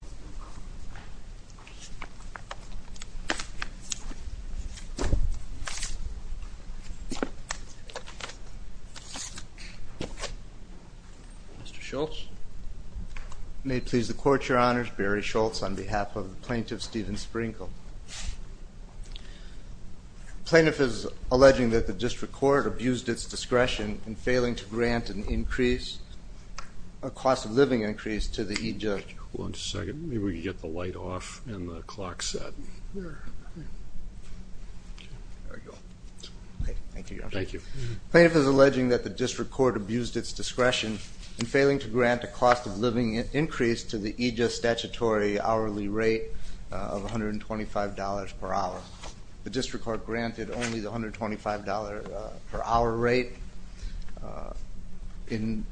Mr. Schultz. May it please the Court, Your Honors. Barry Schultz on behalf of the Plaintiff Stephen Sprinkle. The Plaintiff is alleging that the District Court abused its discretion in failing to grant an increase, a cost-of-living increase, to the EJA statutory hourly rate of $125 per hour. The District Court granted only the $125 per hour rate. In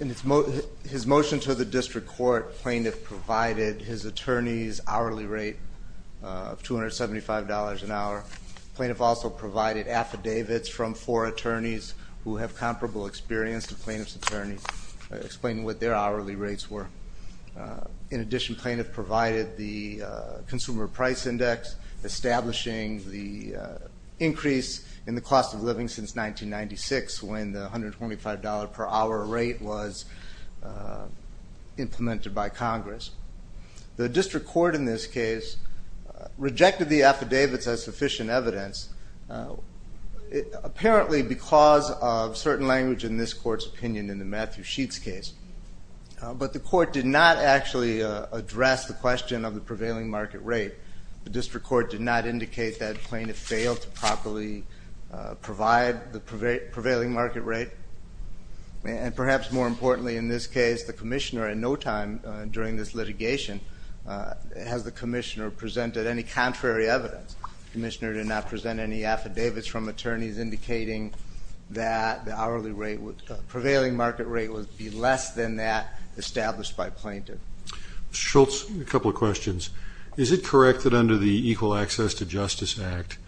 his motion to the District Court, Plaintiff provided his attorney's hourly rate of $275 an hour. Plaintiff also provided affidavits from four attorneys who have comparable experience to Plaintiff's attorneys, explaining what their hourly rates were. In addition, Plaintiff provided the Consumer Price Index, establishing the increase in the cost of living since 1996 when the $125 per hour rate was implemented by Congress. The District Court in this case rejected the affidavits as sufficient evidence, apparently because of certain language in this Court's opinion in the Matthew Sheets case. But the Court did not actually address the question of the prevailing market rate. The District Court did not indicate that Plaintiff failed to properly provide the prevailing market rate. And perhaps more importantly in this case, the Commissioner in no time during this litigation has the Commissioner presented any contrary evidence. The Commissioner did not present any affidavits from attorneys indicating that the prevailing market rate would be less than that established by Plaintiff. Mr. Schultz, a couple of questions. Is it correct that under the Equal Access to Justice Act,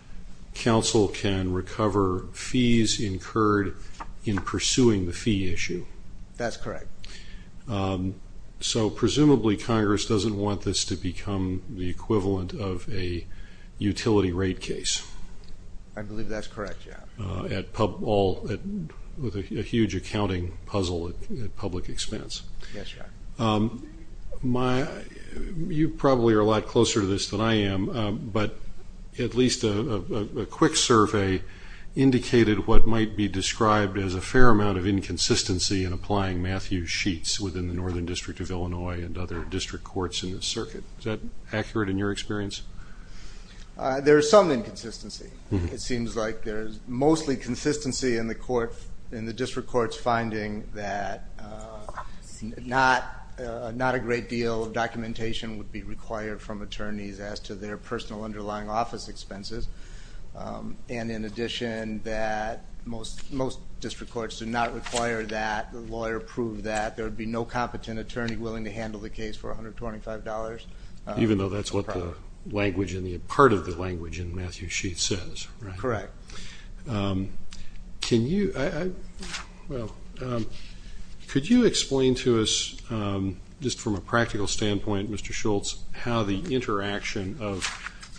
counsel can recover fees incurred in pursuing the fee issue? That's correct. So presumably Congress doesn't want this to become the equivalent of a utility rate case? I believe that's correct, yeah. With a huge accounting puzzle at public expense. Yes, Your Honor. You probably are a lot closer to this than I am, but at least a quick survey indicated what might be described as a fair amount of inconsistency in applying Matthew Sheets within the Northern District of Illinois and other District Courts in this circuit. Is that accurate in your experience? There is some inconsistency. It seems like there's mostly consistency in the District Courts finding that not a great deal of documentation would be required from attorneys as to their personal underlying office expenses. And in addition that most District Courts do not require that the lawyer prove that there would be no competent attorney willing to handle the case for $125. Even though that's what part of the language in Matthew Sheets says, right? Correct. Could you explain to us, just from a practical standpoint, Mr. Schultz, how the interaction of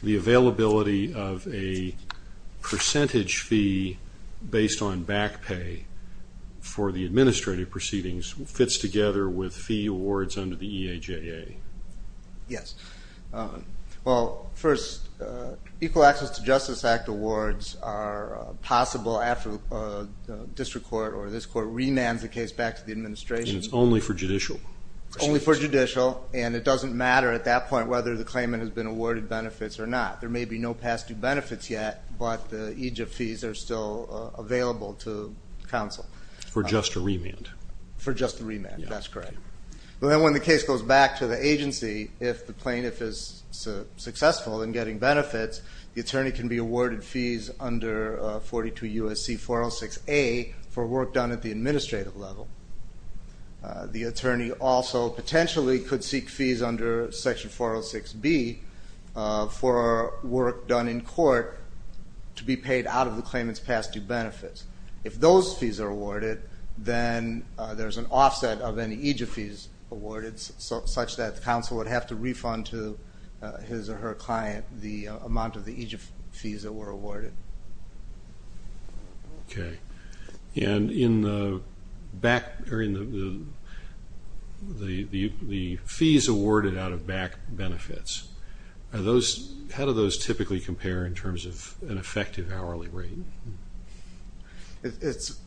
the availability of a percentage fee based on back pay for the administrative proceedings fits together with fee awards under the EAJA? Yes. Well, first, Equal Access to Justice Act awards are possible after a District Court or this Court remands the case back to the administration. And it's only for judicial? It's only for judicial, and it doesn't matter at that point whether the claimant has been awarded benefits or not. There may be no past due benefits yet, but the EJIP fees are still available to counsel. For just a remand? For just a remand, that's correct. Well, then when the case goes back to the agency, if the plaintiff is successful in getting benefits, the attorney can be awarded fees under 42 U.S.C. 406A for work done at the administrative level. The attorney also potentially could seek fees under Section 406B for work done in court to be paid out of the claimant's past due benefits. If those fees are awarded, then there's an offset of any EJIP fees awarded such that the counsel would have to refund to his or her client the amount of the EJIP fees that were awarded. Okay. And in the fees awarded out of back benefits, how do those typically compare in terms of an effective hourly rate? It's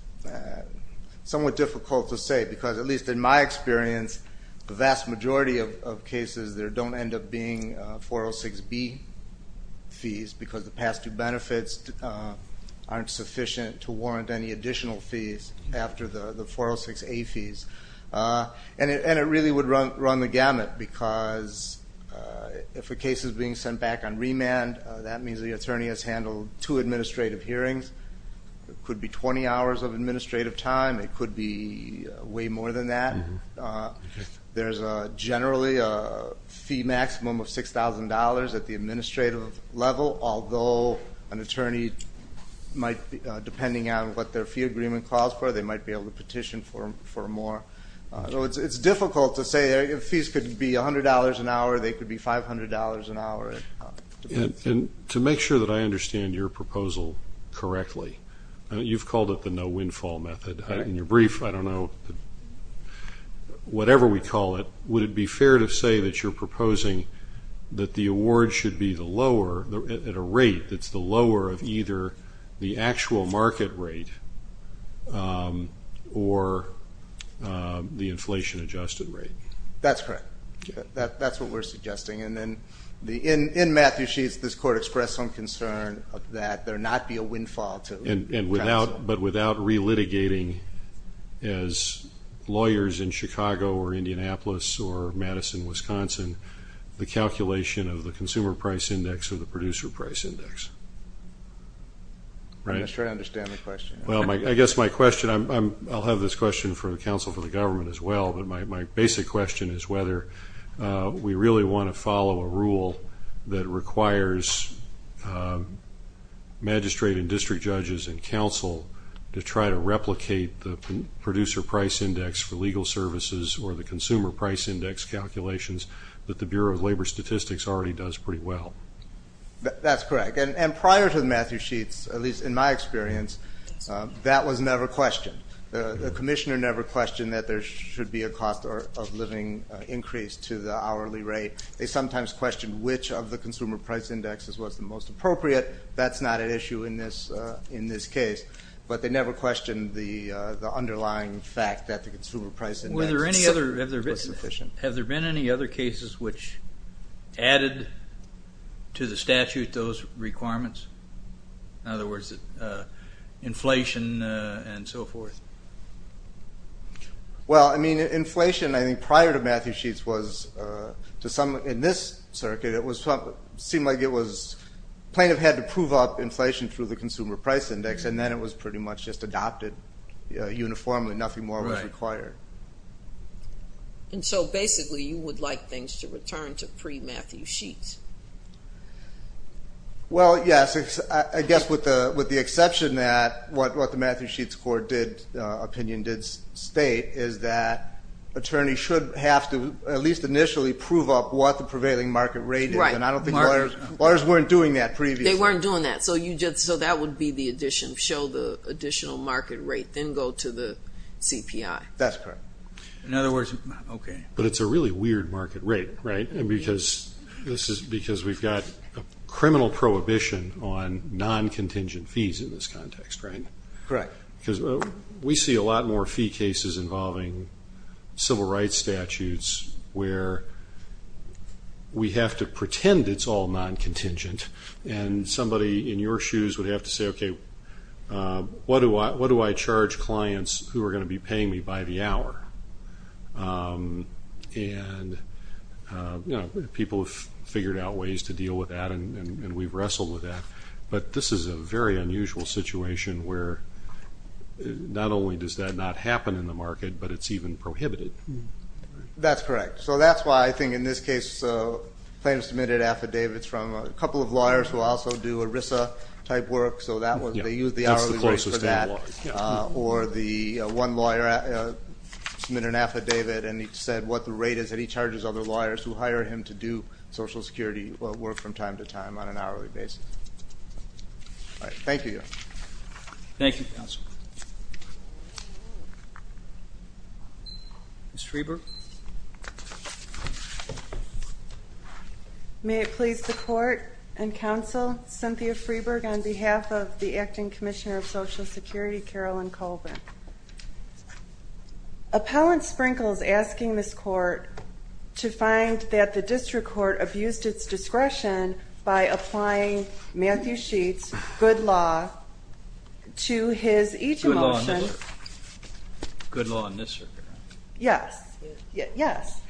somewhat difficult to say because, at least in my experience, the vast majority of cases, there don't end up being 406B fees because the past due benefits aren't sufficient to warrant any additional fees after the 406A fees. And it really would run the gamut because if a case is being sent back on remand, that means the attorney has handled two administrative hearings. It could be 20 hours of administrative time. It could be way more than that. There's generally a fee maximum of $6,000 at the administrative level, although an attorney might, depending on what their fee agreement calls for, they might be able to petition for more. So it's difficult to say. Fees could be $100 an hour. They could be $500 an hour. And to make sure that I understand your proposal correctly, you've called it the no-windfall method. In your brief, I don't know, whatever we call it, would it be fair to say that you're proposing that the award should be at a rate that's the lower of either the actual market rate or the inflation-adjusted rate? That's correct. That's what we're suggesting. In Matthew Sheets, this Court expressed some concern that there not be a windfall to counsel. But without relitigating, as lawyers in Chicago or Indianapolis or Madison, Wisconsin, the calculation of the consumer price index or the producer price index. I'm not sure I understand the question. Well, I guess my question, I'll have this question for the counsel for the government as well. But my basic question is whether we really want to follow a rule that requires magistrate and district judges and counsel to try to replicate the producer price index for legal services or the consumer price index calculations that the Bureau of Labor Statistics already does pretty well. That's correct. And prior to Matthew Sheets, at least in my experience, that was never questioned. The commissioner never questioned that there should be a cost of living increase to the hourly rate. They sometimes questioned which of the consumer price indexes was the most appropriate. That's not an issue in this case. But they never questioned the underlying fact that the consumer price index was sufficient. Have there been any other cases which added to the statute those requirements? In other words, inflation and so forth. Well, I mean, inflation, I think, prior to Matthew Sheets was to some in this circuit, it seemed like it was plaintiff had to prove up inflation through the consumer price index. And then it was pretty much just adopted uniformly. Nothing more was required. And so basically you would like things to return to pre-Matthew Sheets? Well, yes. I guess with the exception that what the Matthew Sheets opinion did state is that attorneys should have to at least initially prove up what the prevailing market rate is. Right. And I don't think lawyers weren't doing that previously. They weren't doing that. So that would be the addition, show the additional market rate, then go to the CPI. That's correct. In other words, okay. But it's a really weird market rate, right, because we've got a criminal prohibition on non-contingent fees in this context, right? Correct. Because we see a lot more fee cases involving civil rights statutes where we have to pretend it's all non-contingent and somebody in your shoes would have to say, okay, what do I charge clients who are going to be paying me by the hour? And, you know, people have figured out ways to deal with that and we've wrestled with that. But this is a very unusual situation where not only does that not happen in the market, but it's even prohibited. That's correct. So that's why I think in this case the claimant submitted affidavits from a couple of lawyers who also do ERISA-type work. So they used the hourly rate for that. Or the one lawyer submitted an affidavit and he said what the rate is that he charges other lawyers who hire him to do Social Security work from time to time on an hourly basis. Thank you. Thank you, Counsel. Ms. Freeberg. May it please the Court and Counsel, Cynthia Freeberg, on behalf of the Acting Commissioner of Social Security, Carolyn Colvin. Appellant Sprinkles is asking this Court to find that the District Court abused its discretion by applying Matthew Sheets' good law to his EJA motion. Good law in this circuit, right? Yes. Yes.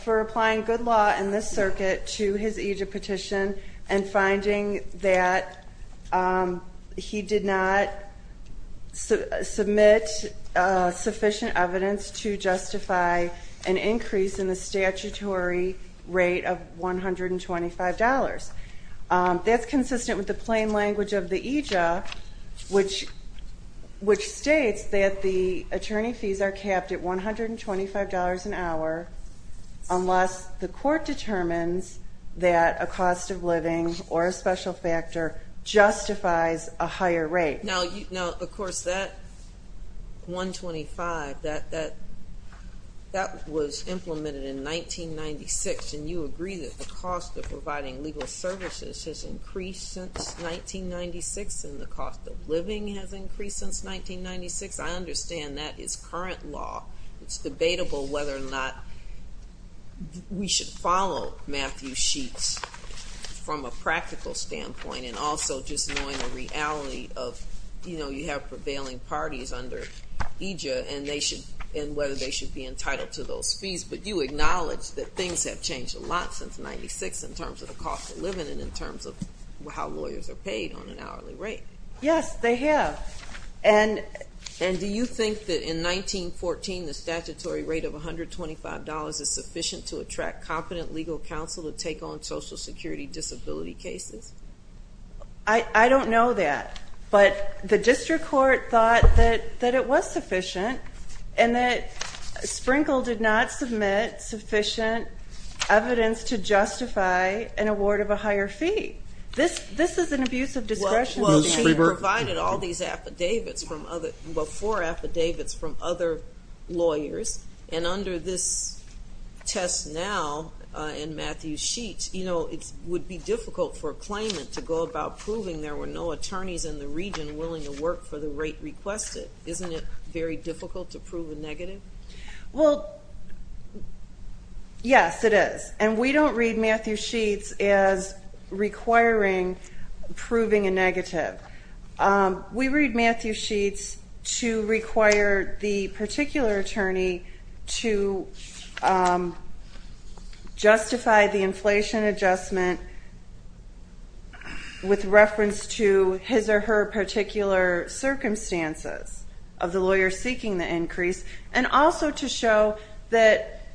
For applying good law in this circuit to his EJA petition and finding that he did not submit sufficient evidence to justify an increase in the statutory rate of $125. That's consistent with the plain language of the EJA, which states that the attorney fees are capped at $125 an hour unless the Court determines that a cost of living or a special factor justifies a higher rate. Now, of course, that $125, that was implemented in 1996 and you agree that the cost of providing legal services has increased since 1996 and the cost of living has increased since 1996. I understand that is current law. It's debatable whether or not we should follow Matthew Sheets from a practical standpoint and also just knowing the reality of, you know, you have prevailing parties under EJA and whether they should be entitled to those fees. But you acknowledge that things have changed a lot since 1996 in terms of the cost of living and in terms of how lawyers are paid on an hourly rate. Yes, they have. And do you think that in 1914 the statutory rate of $125 is sufficient to attract competent legal counsel to take on Social Security disability cases? I don't know that. But the District Court thought that it was sufficient and that Sprinkle did not submit sufficient evidence to justify an award of a higher fee. This is an abuse of discretion. Well, she provided all these affidavits from other, well, four affidavits from other lawyers and under this test now in Matthew Sheets, you know, it would be difficult for a claimant to go about proving there were no attorneys in the region willing to work for the rate requested. Isn't it very difficult to prove a negative? Well, yes, it is. And we don't read Matthew Sheets as requiring proving a negative. We read Matthew Sheets to require the particular attorney to justify the inflation adjustment with reference to his or her particular circumstances of the lawyer seeking the increase and also to show that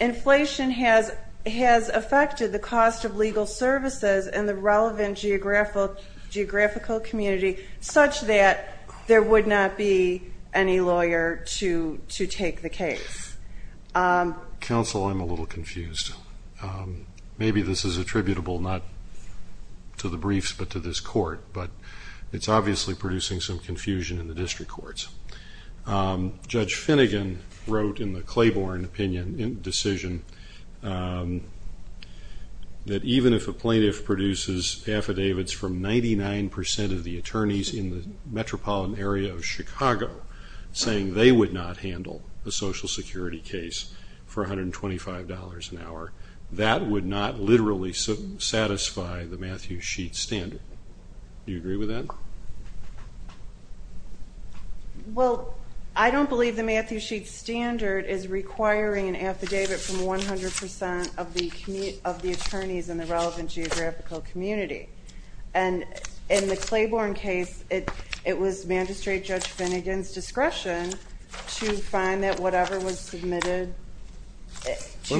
inflation has affected the cost of legal services and the relevant geographical community such that there would not be any lawyer to take the case. Counsel, I'm a little confused. Maybe this is attributable not to the briefs but to this court. But it's obviously producing some confusion in the District Courts. Judge Finnegan wrote in the Claiborne decision that even if a plaintiff produces affidavits from 99 percent of the attorneys in the metropolitan area of Chicago saying they would not handle a Social Security case for $125 an hour, that would not literally satisfy the Matthew Sheets standard. Do you agree with that? Well, I don't believe the Matthew Sheets standard is requiring an affidavit from 100 percent of the attorneys in the relevant geographical community. And in the Claiborne case, it was magistrate Judge Finnegan's discretion to find that whatever was submitted to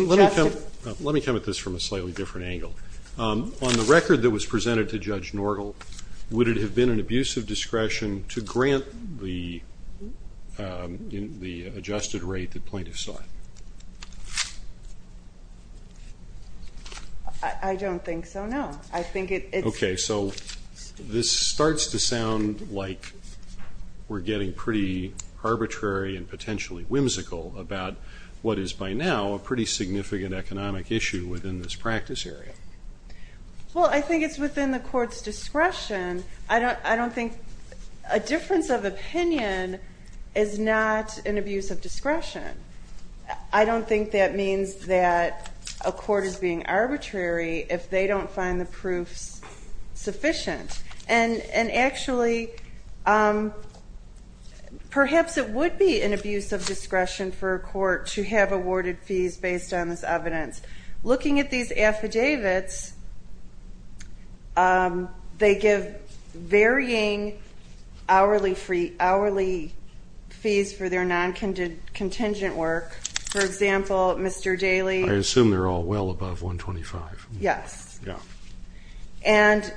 justice Let me come at this from a slightly different angle. On the record that was presented to Judge Norgel, would it have been an abuse of discretion to grant the adjusted rate that plaintiffs sought? I don't think so, no. Okay, so this starts to sound like we're getting pretty arbitrary and potentially whimsical about what is by now a pretty significant economic issue within this practice area. Well, I think it's within the court's discretion. I don't think a difference of opinion is not an abuse of discretion. I don't think that means that a court is being arbitrary if they don't find the proofs sufficient. And actually, perhaps it would be an abuse of discretion for a court to have awarded fees based on this evidence. Looking at these affidavits, they give varying hourly fees for their non-contingent work. For example, Mr. Daley... I assume they're all well above 125. Yes. Yeah. And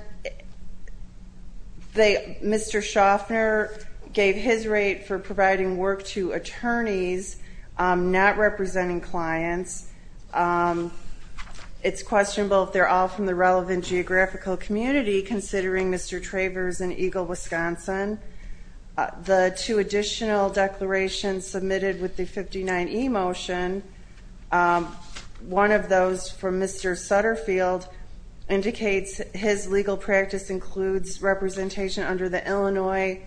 Mr. Schaffner gave his rate for providing work to attorneys not representing clients. It's questionable if they're all from the relevant geographical community, considering Mr. Travers in Eagle, Wisconsin. The two additional declarations submitted with the 59E motion, one of those from Mr. Sutterfield indicates his legal practice includes representation under the Illinois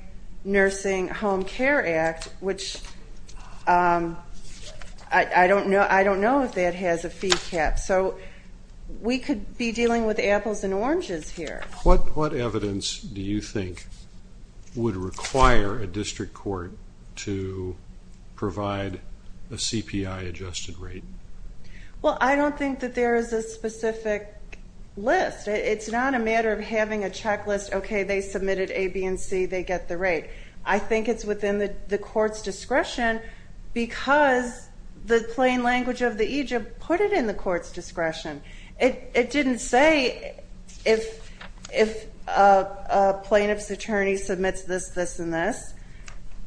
Nursing Home Care Act, which I don't know if that has a fee cap. So we could be dealing with apples and oranges here. What evidence do you think would require a district court to provide a CPI-adjusted rate? Well, I don't think that there is a specific list. It's not a matter of having a checklist, okay, they submitted A, B, and C, they get the rate. I think it's within the court's discretion because the plain language of the EJIP put it in the court's discretion. It didn't say if a plaintiff's attorney submits this, this, and this.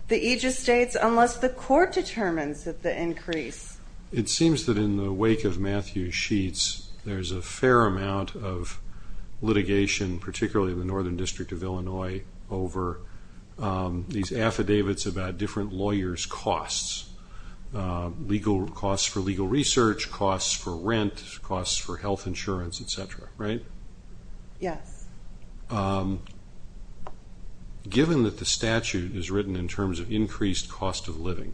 The EJIP states unless the court determines that the increase. It seems that in the wake of Matthew Sheetz, there's a fair amount of litigation, particularly in the Northern District of Illinois, over these affidavits about different lawyers' costs. Legal costs for legal research, costs for rent, costs for health insurance, et cetera, right? Yes. Given that the statute is written in terms of increased cost of living,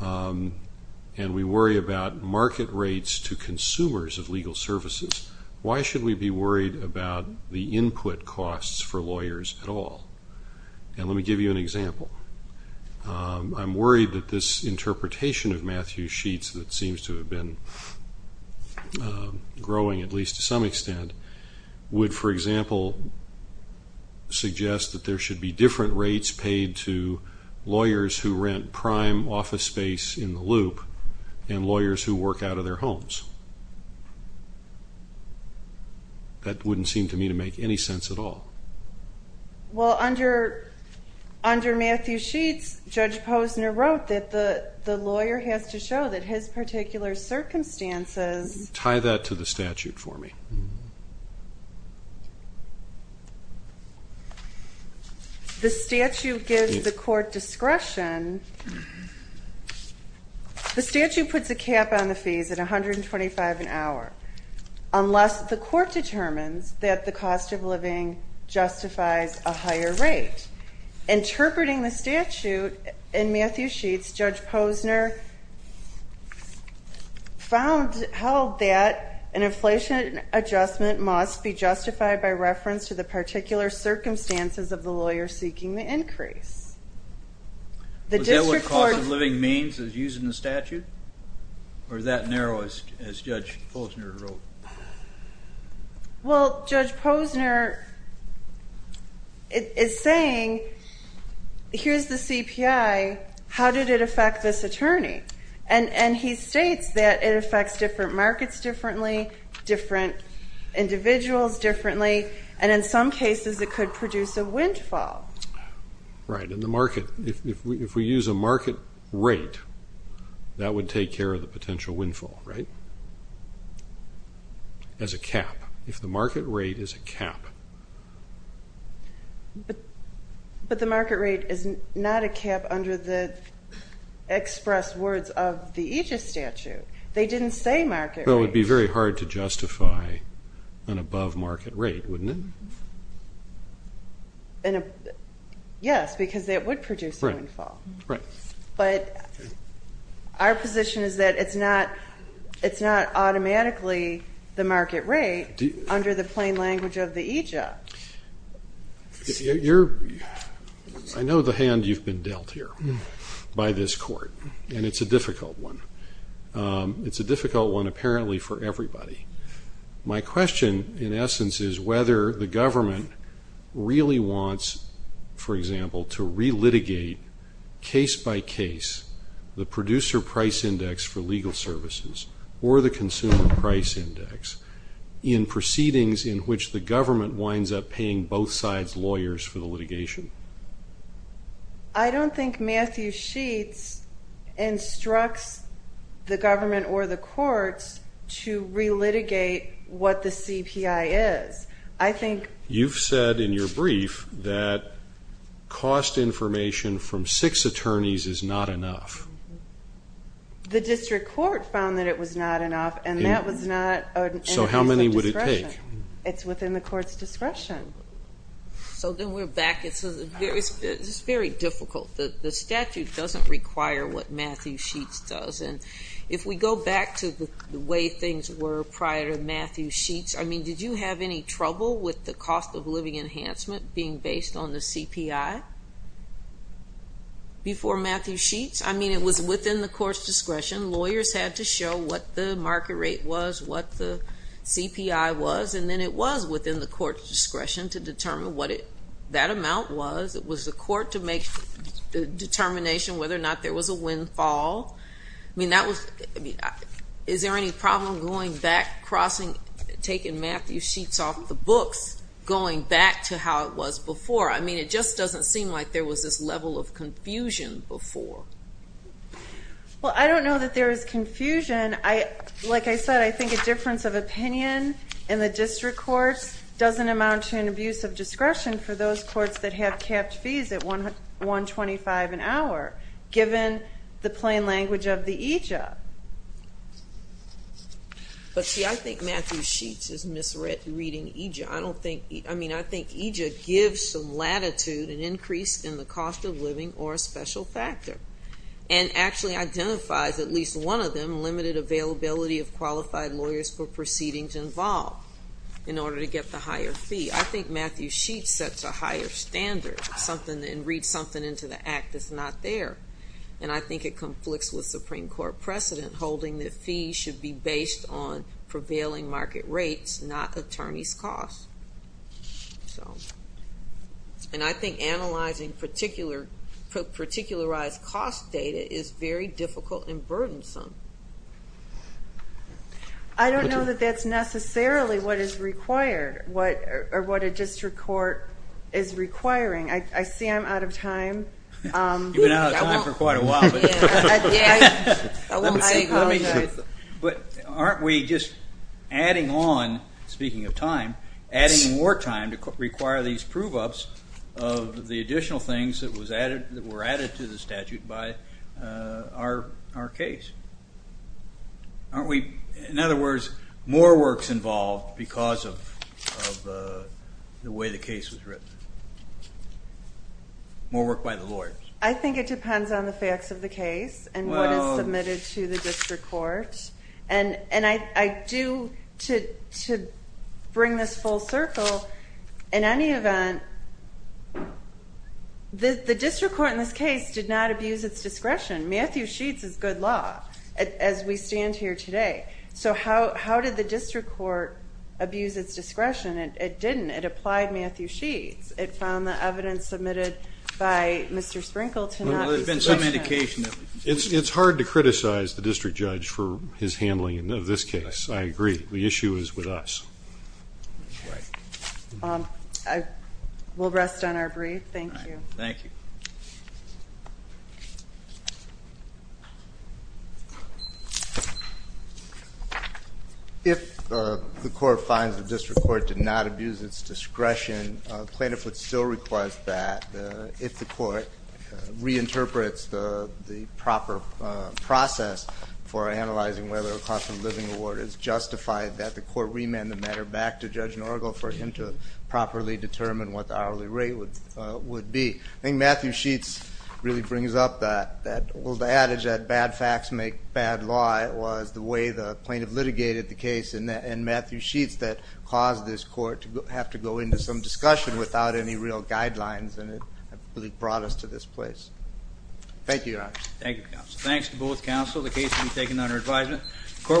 and we worry about market rates to consumers of legal services, why should we be worried about the input costs for lawyers at all? And let me give you an example. I'm worried that this interpretation of Matthew Sheetz that seems to have been growing, at least to some extent, would, for example, suggest that there should be different rates paid to lawyers who rent prime office space in the loop and lawyers who work out of their homes. That wouldn't seem to me to make any sense at all. Well, under Matthew Sheetz, Judge Posner wrote that the lawyer has to show that his particular circumstances. Tie that to the statute for me. The statute gives the court discretion. The statute puts a cap on the fees at $125 an hour unless the court determines that the cost of living justifies a higher rate. Interpreting the statute in Matthew Sheetz, Judge Posner held that an inflation adjustment must be justified by reference to the particular circumstances of the lawyer seeking the increase. Is that what cost of living means is used in the statute? Or is that narrow, as Judge Posner wrote? Well, Judge Posner is saying, here's the CPI, how did it affect this attorney? And he states that it affects different markets differently, different individuals differently, and in some cases it could produce a windfall. Right, and the market, if we use a market rate, that would take care of the potential windfall, right? As a cap, if the market rate is a cap. But the market rate is not a cap under the express words of the Aegis statute. They didn't say market rate. Well, it would be very hard to justify an above market rate, wouldn't it? Yes, because it would produce a windfall. Right. But our position is that it's not automatically the market rate under the plain language of the Aegis. I know the hand you've been dealt here by this court, and it's a difficult one. It's a difficult one apparently for everybody. My question, in essence, is whether the government really wants, for example, to re-litigate case by case the producer price index for legal services or the consumer price index in proceedings in which the government winds up paying both sides' lawyers for the litigation. I don't think Matthew Sheets instructs the government or the courts to re-litigate what the CPI is. I think you've said in your brief that cost information from six attorneys is not enough. The district court found that it was not enough, and that was not an increase of discretion. So how many would it take? It's within the court's discretion. So then we're back. It's very difficult. The statute doesn't require what Matthew Sheets does. And if we go back to the way things were prior to Matthew Sheets, I mean, did you have any trouble with the cost of living enhancement being based on the CPI before Matthew Sheets? I mean, it was within the court's discretion. Lawyers had to show what the market rate was, what the CPI was, and then it was within the court's discretion to determine what that amount was. It was the court to make the determination whether or not there was a windfall. I mean, is there any problem going back, crossing, taking Matthew Sheets off the books, going back to how it was before? I mean, it just doesn't seem like there was this level of confusion before. Well, I don't know that there is confusion. Like I said, I think a difference of opinion in the district courts doesn't amount to an abuse of discretion for those courts that have capped fees at $125 an hour, given the plain language of the EJA. But see, I think Matthew Sheets is misreading EJA. I mean, I think EJA gives some latitude and increase in the cost of living or a special factor and actually identifies, at least one of them, limited availability of qualified lawyers for proceedings involved in order to get the higher fee. I think Matthew Sheets sets a higher standard and reads something into the Act that's not there. And I think it conflicts with Supreme Court precedent, holding that fees should be based on prevailing market rates, not attorneys' costs. And I think analyzing particularized cost data is very difficult and burdensome. I don't know that that's necessarily what is required or what a district court is requiring. I see I'm out of time. You've been out of time for quite a while. But aren't we just adding on, speaking of time, adding more time to require these prove-ups of the additional things that were added to the statute by our case? Aren't we, in other words, more works involved because of the way the case was written? More work by the lawyers? I think it depends on the facts of the case and what is submitted to the district court. And I do, to bring this full circle, in any event, the district court in this case did not abuse its discretion. Matthew Sheets is good law, as we stand here today. So how did the district court abuse its discretion? It didn't. It applied Matthew Sheets. It found the evidence submitted by Mr. Sprinkle to not be sufficient. Well, there's been some indication of it. It's hard to criticize the district judge for his handling of this case. I agree. The issue is with us. Right. We'll rest on our brief. Thank you. Thank you. If the court finds the district court did not abuse its discretion, plaintiff would still request that, if the court reinterprets the proper process for analyzing whether a cost of living award is justified, that the court remand the matter back to Judge Norgo for him to properly determine what the hourly rate would be. I think Matthew Sheets really brings up that. Well, the adage that bad facts make bad law was the way the plaintiff litigated the case, and Matthew Sheets caused this court to have to go into some discussion without any real guidelines, and it really brought us to this place. Thank you, Your Honor. Thank you, counsel. Thanks to both counsel. The case will be taken under advisement. The court will take a brief recess.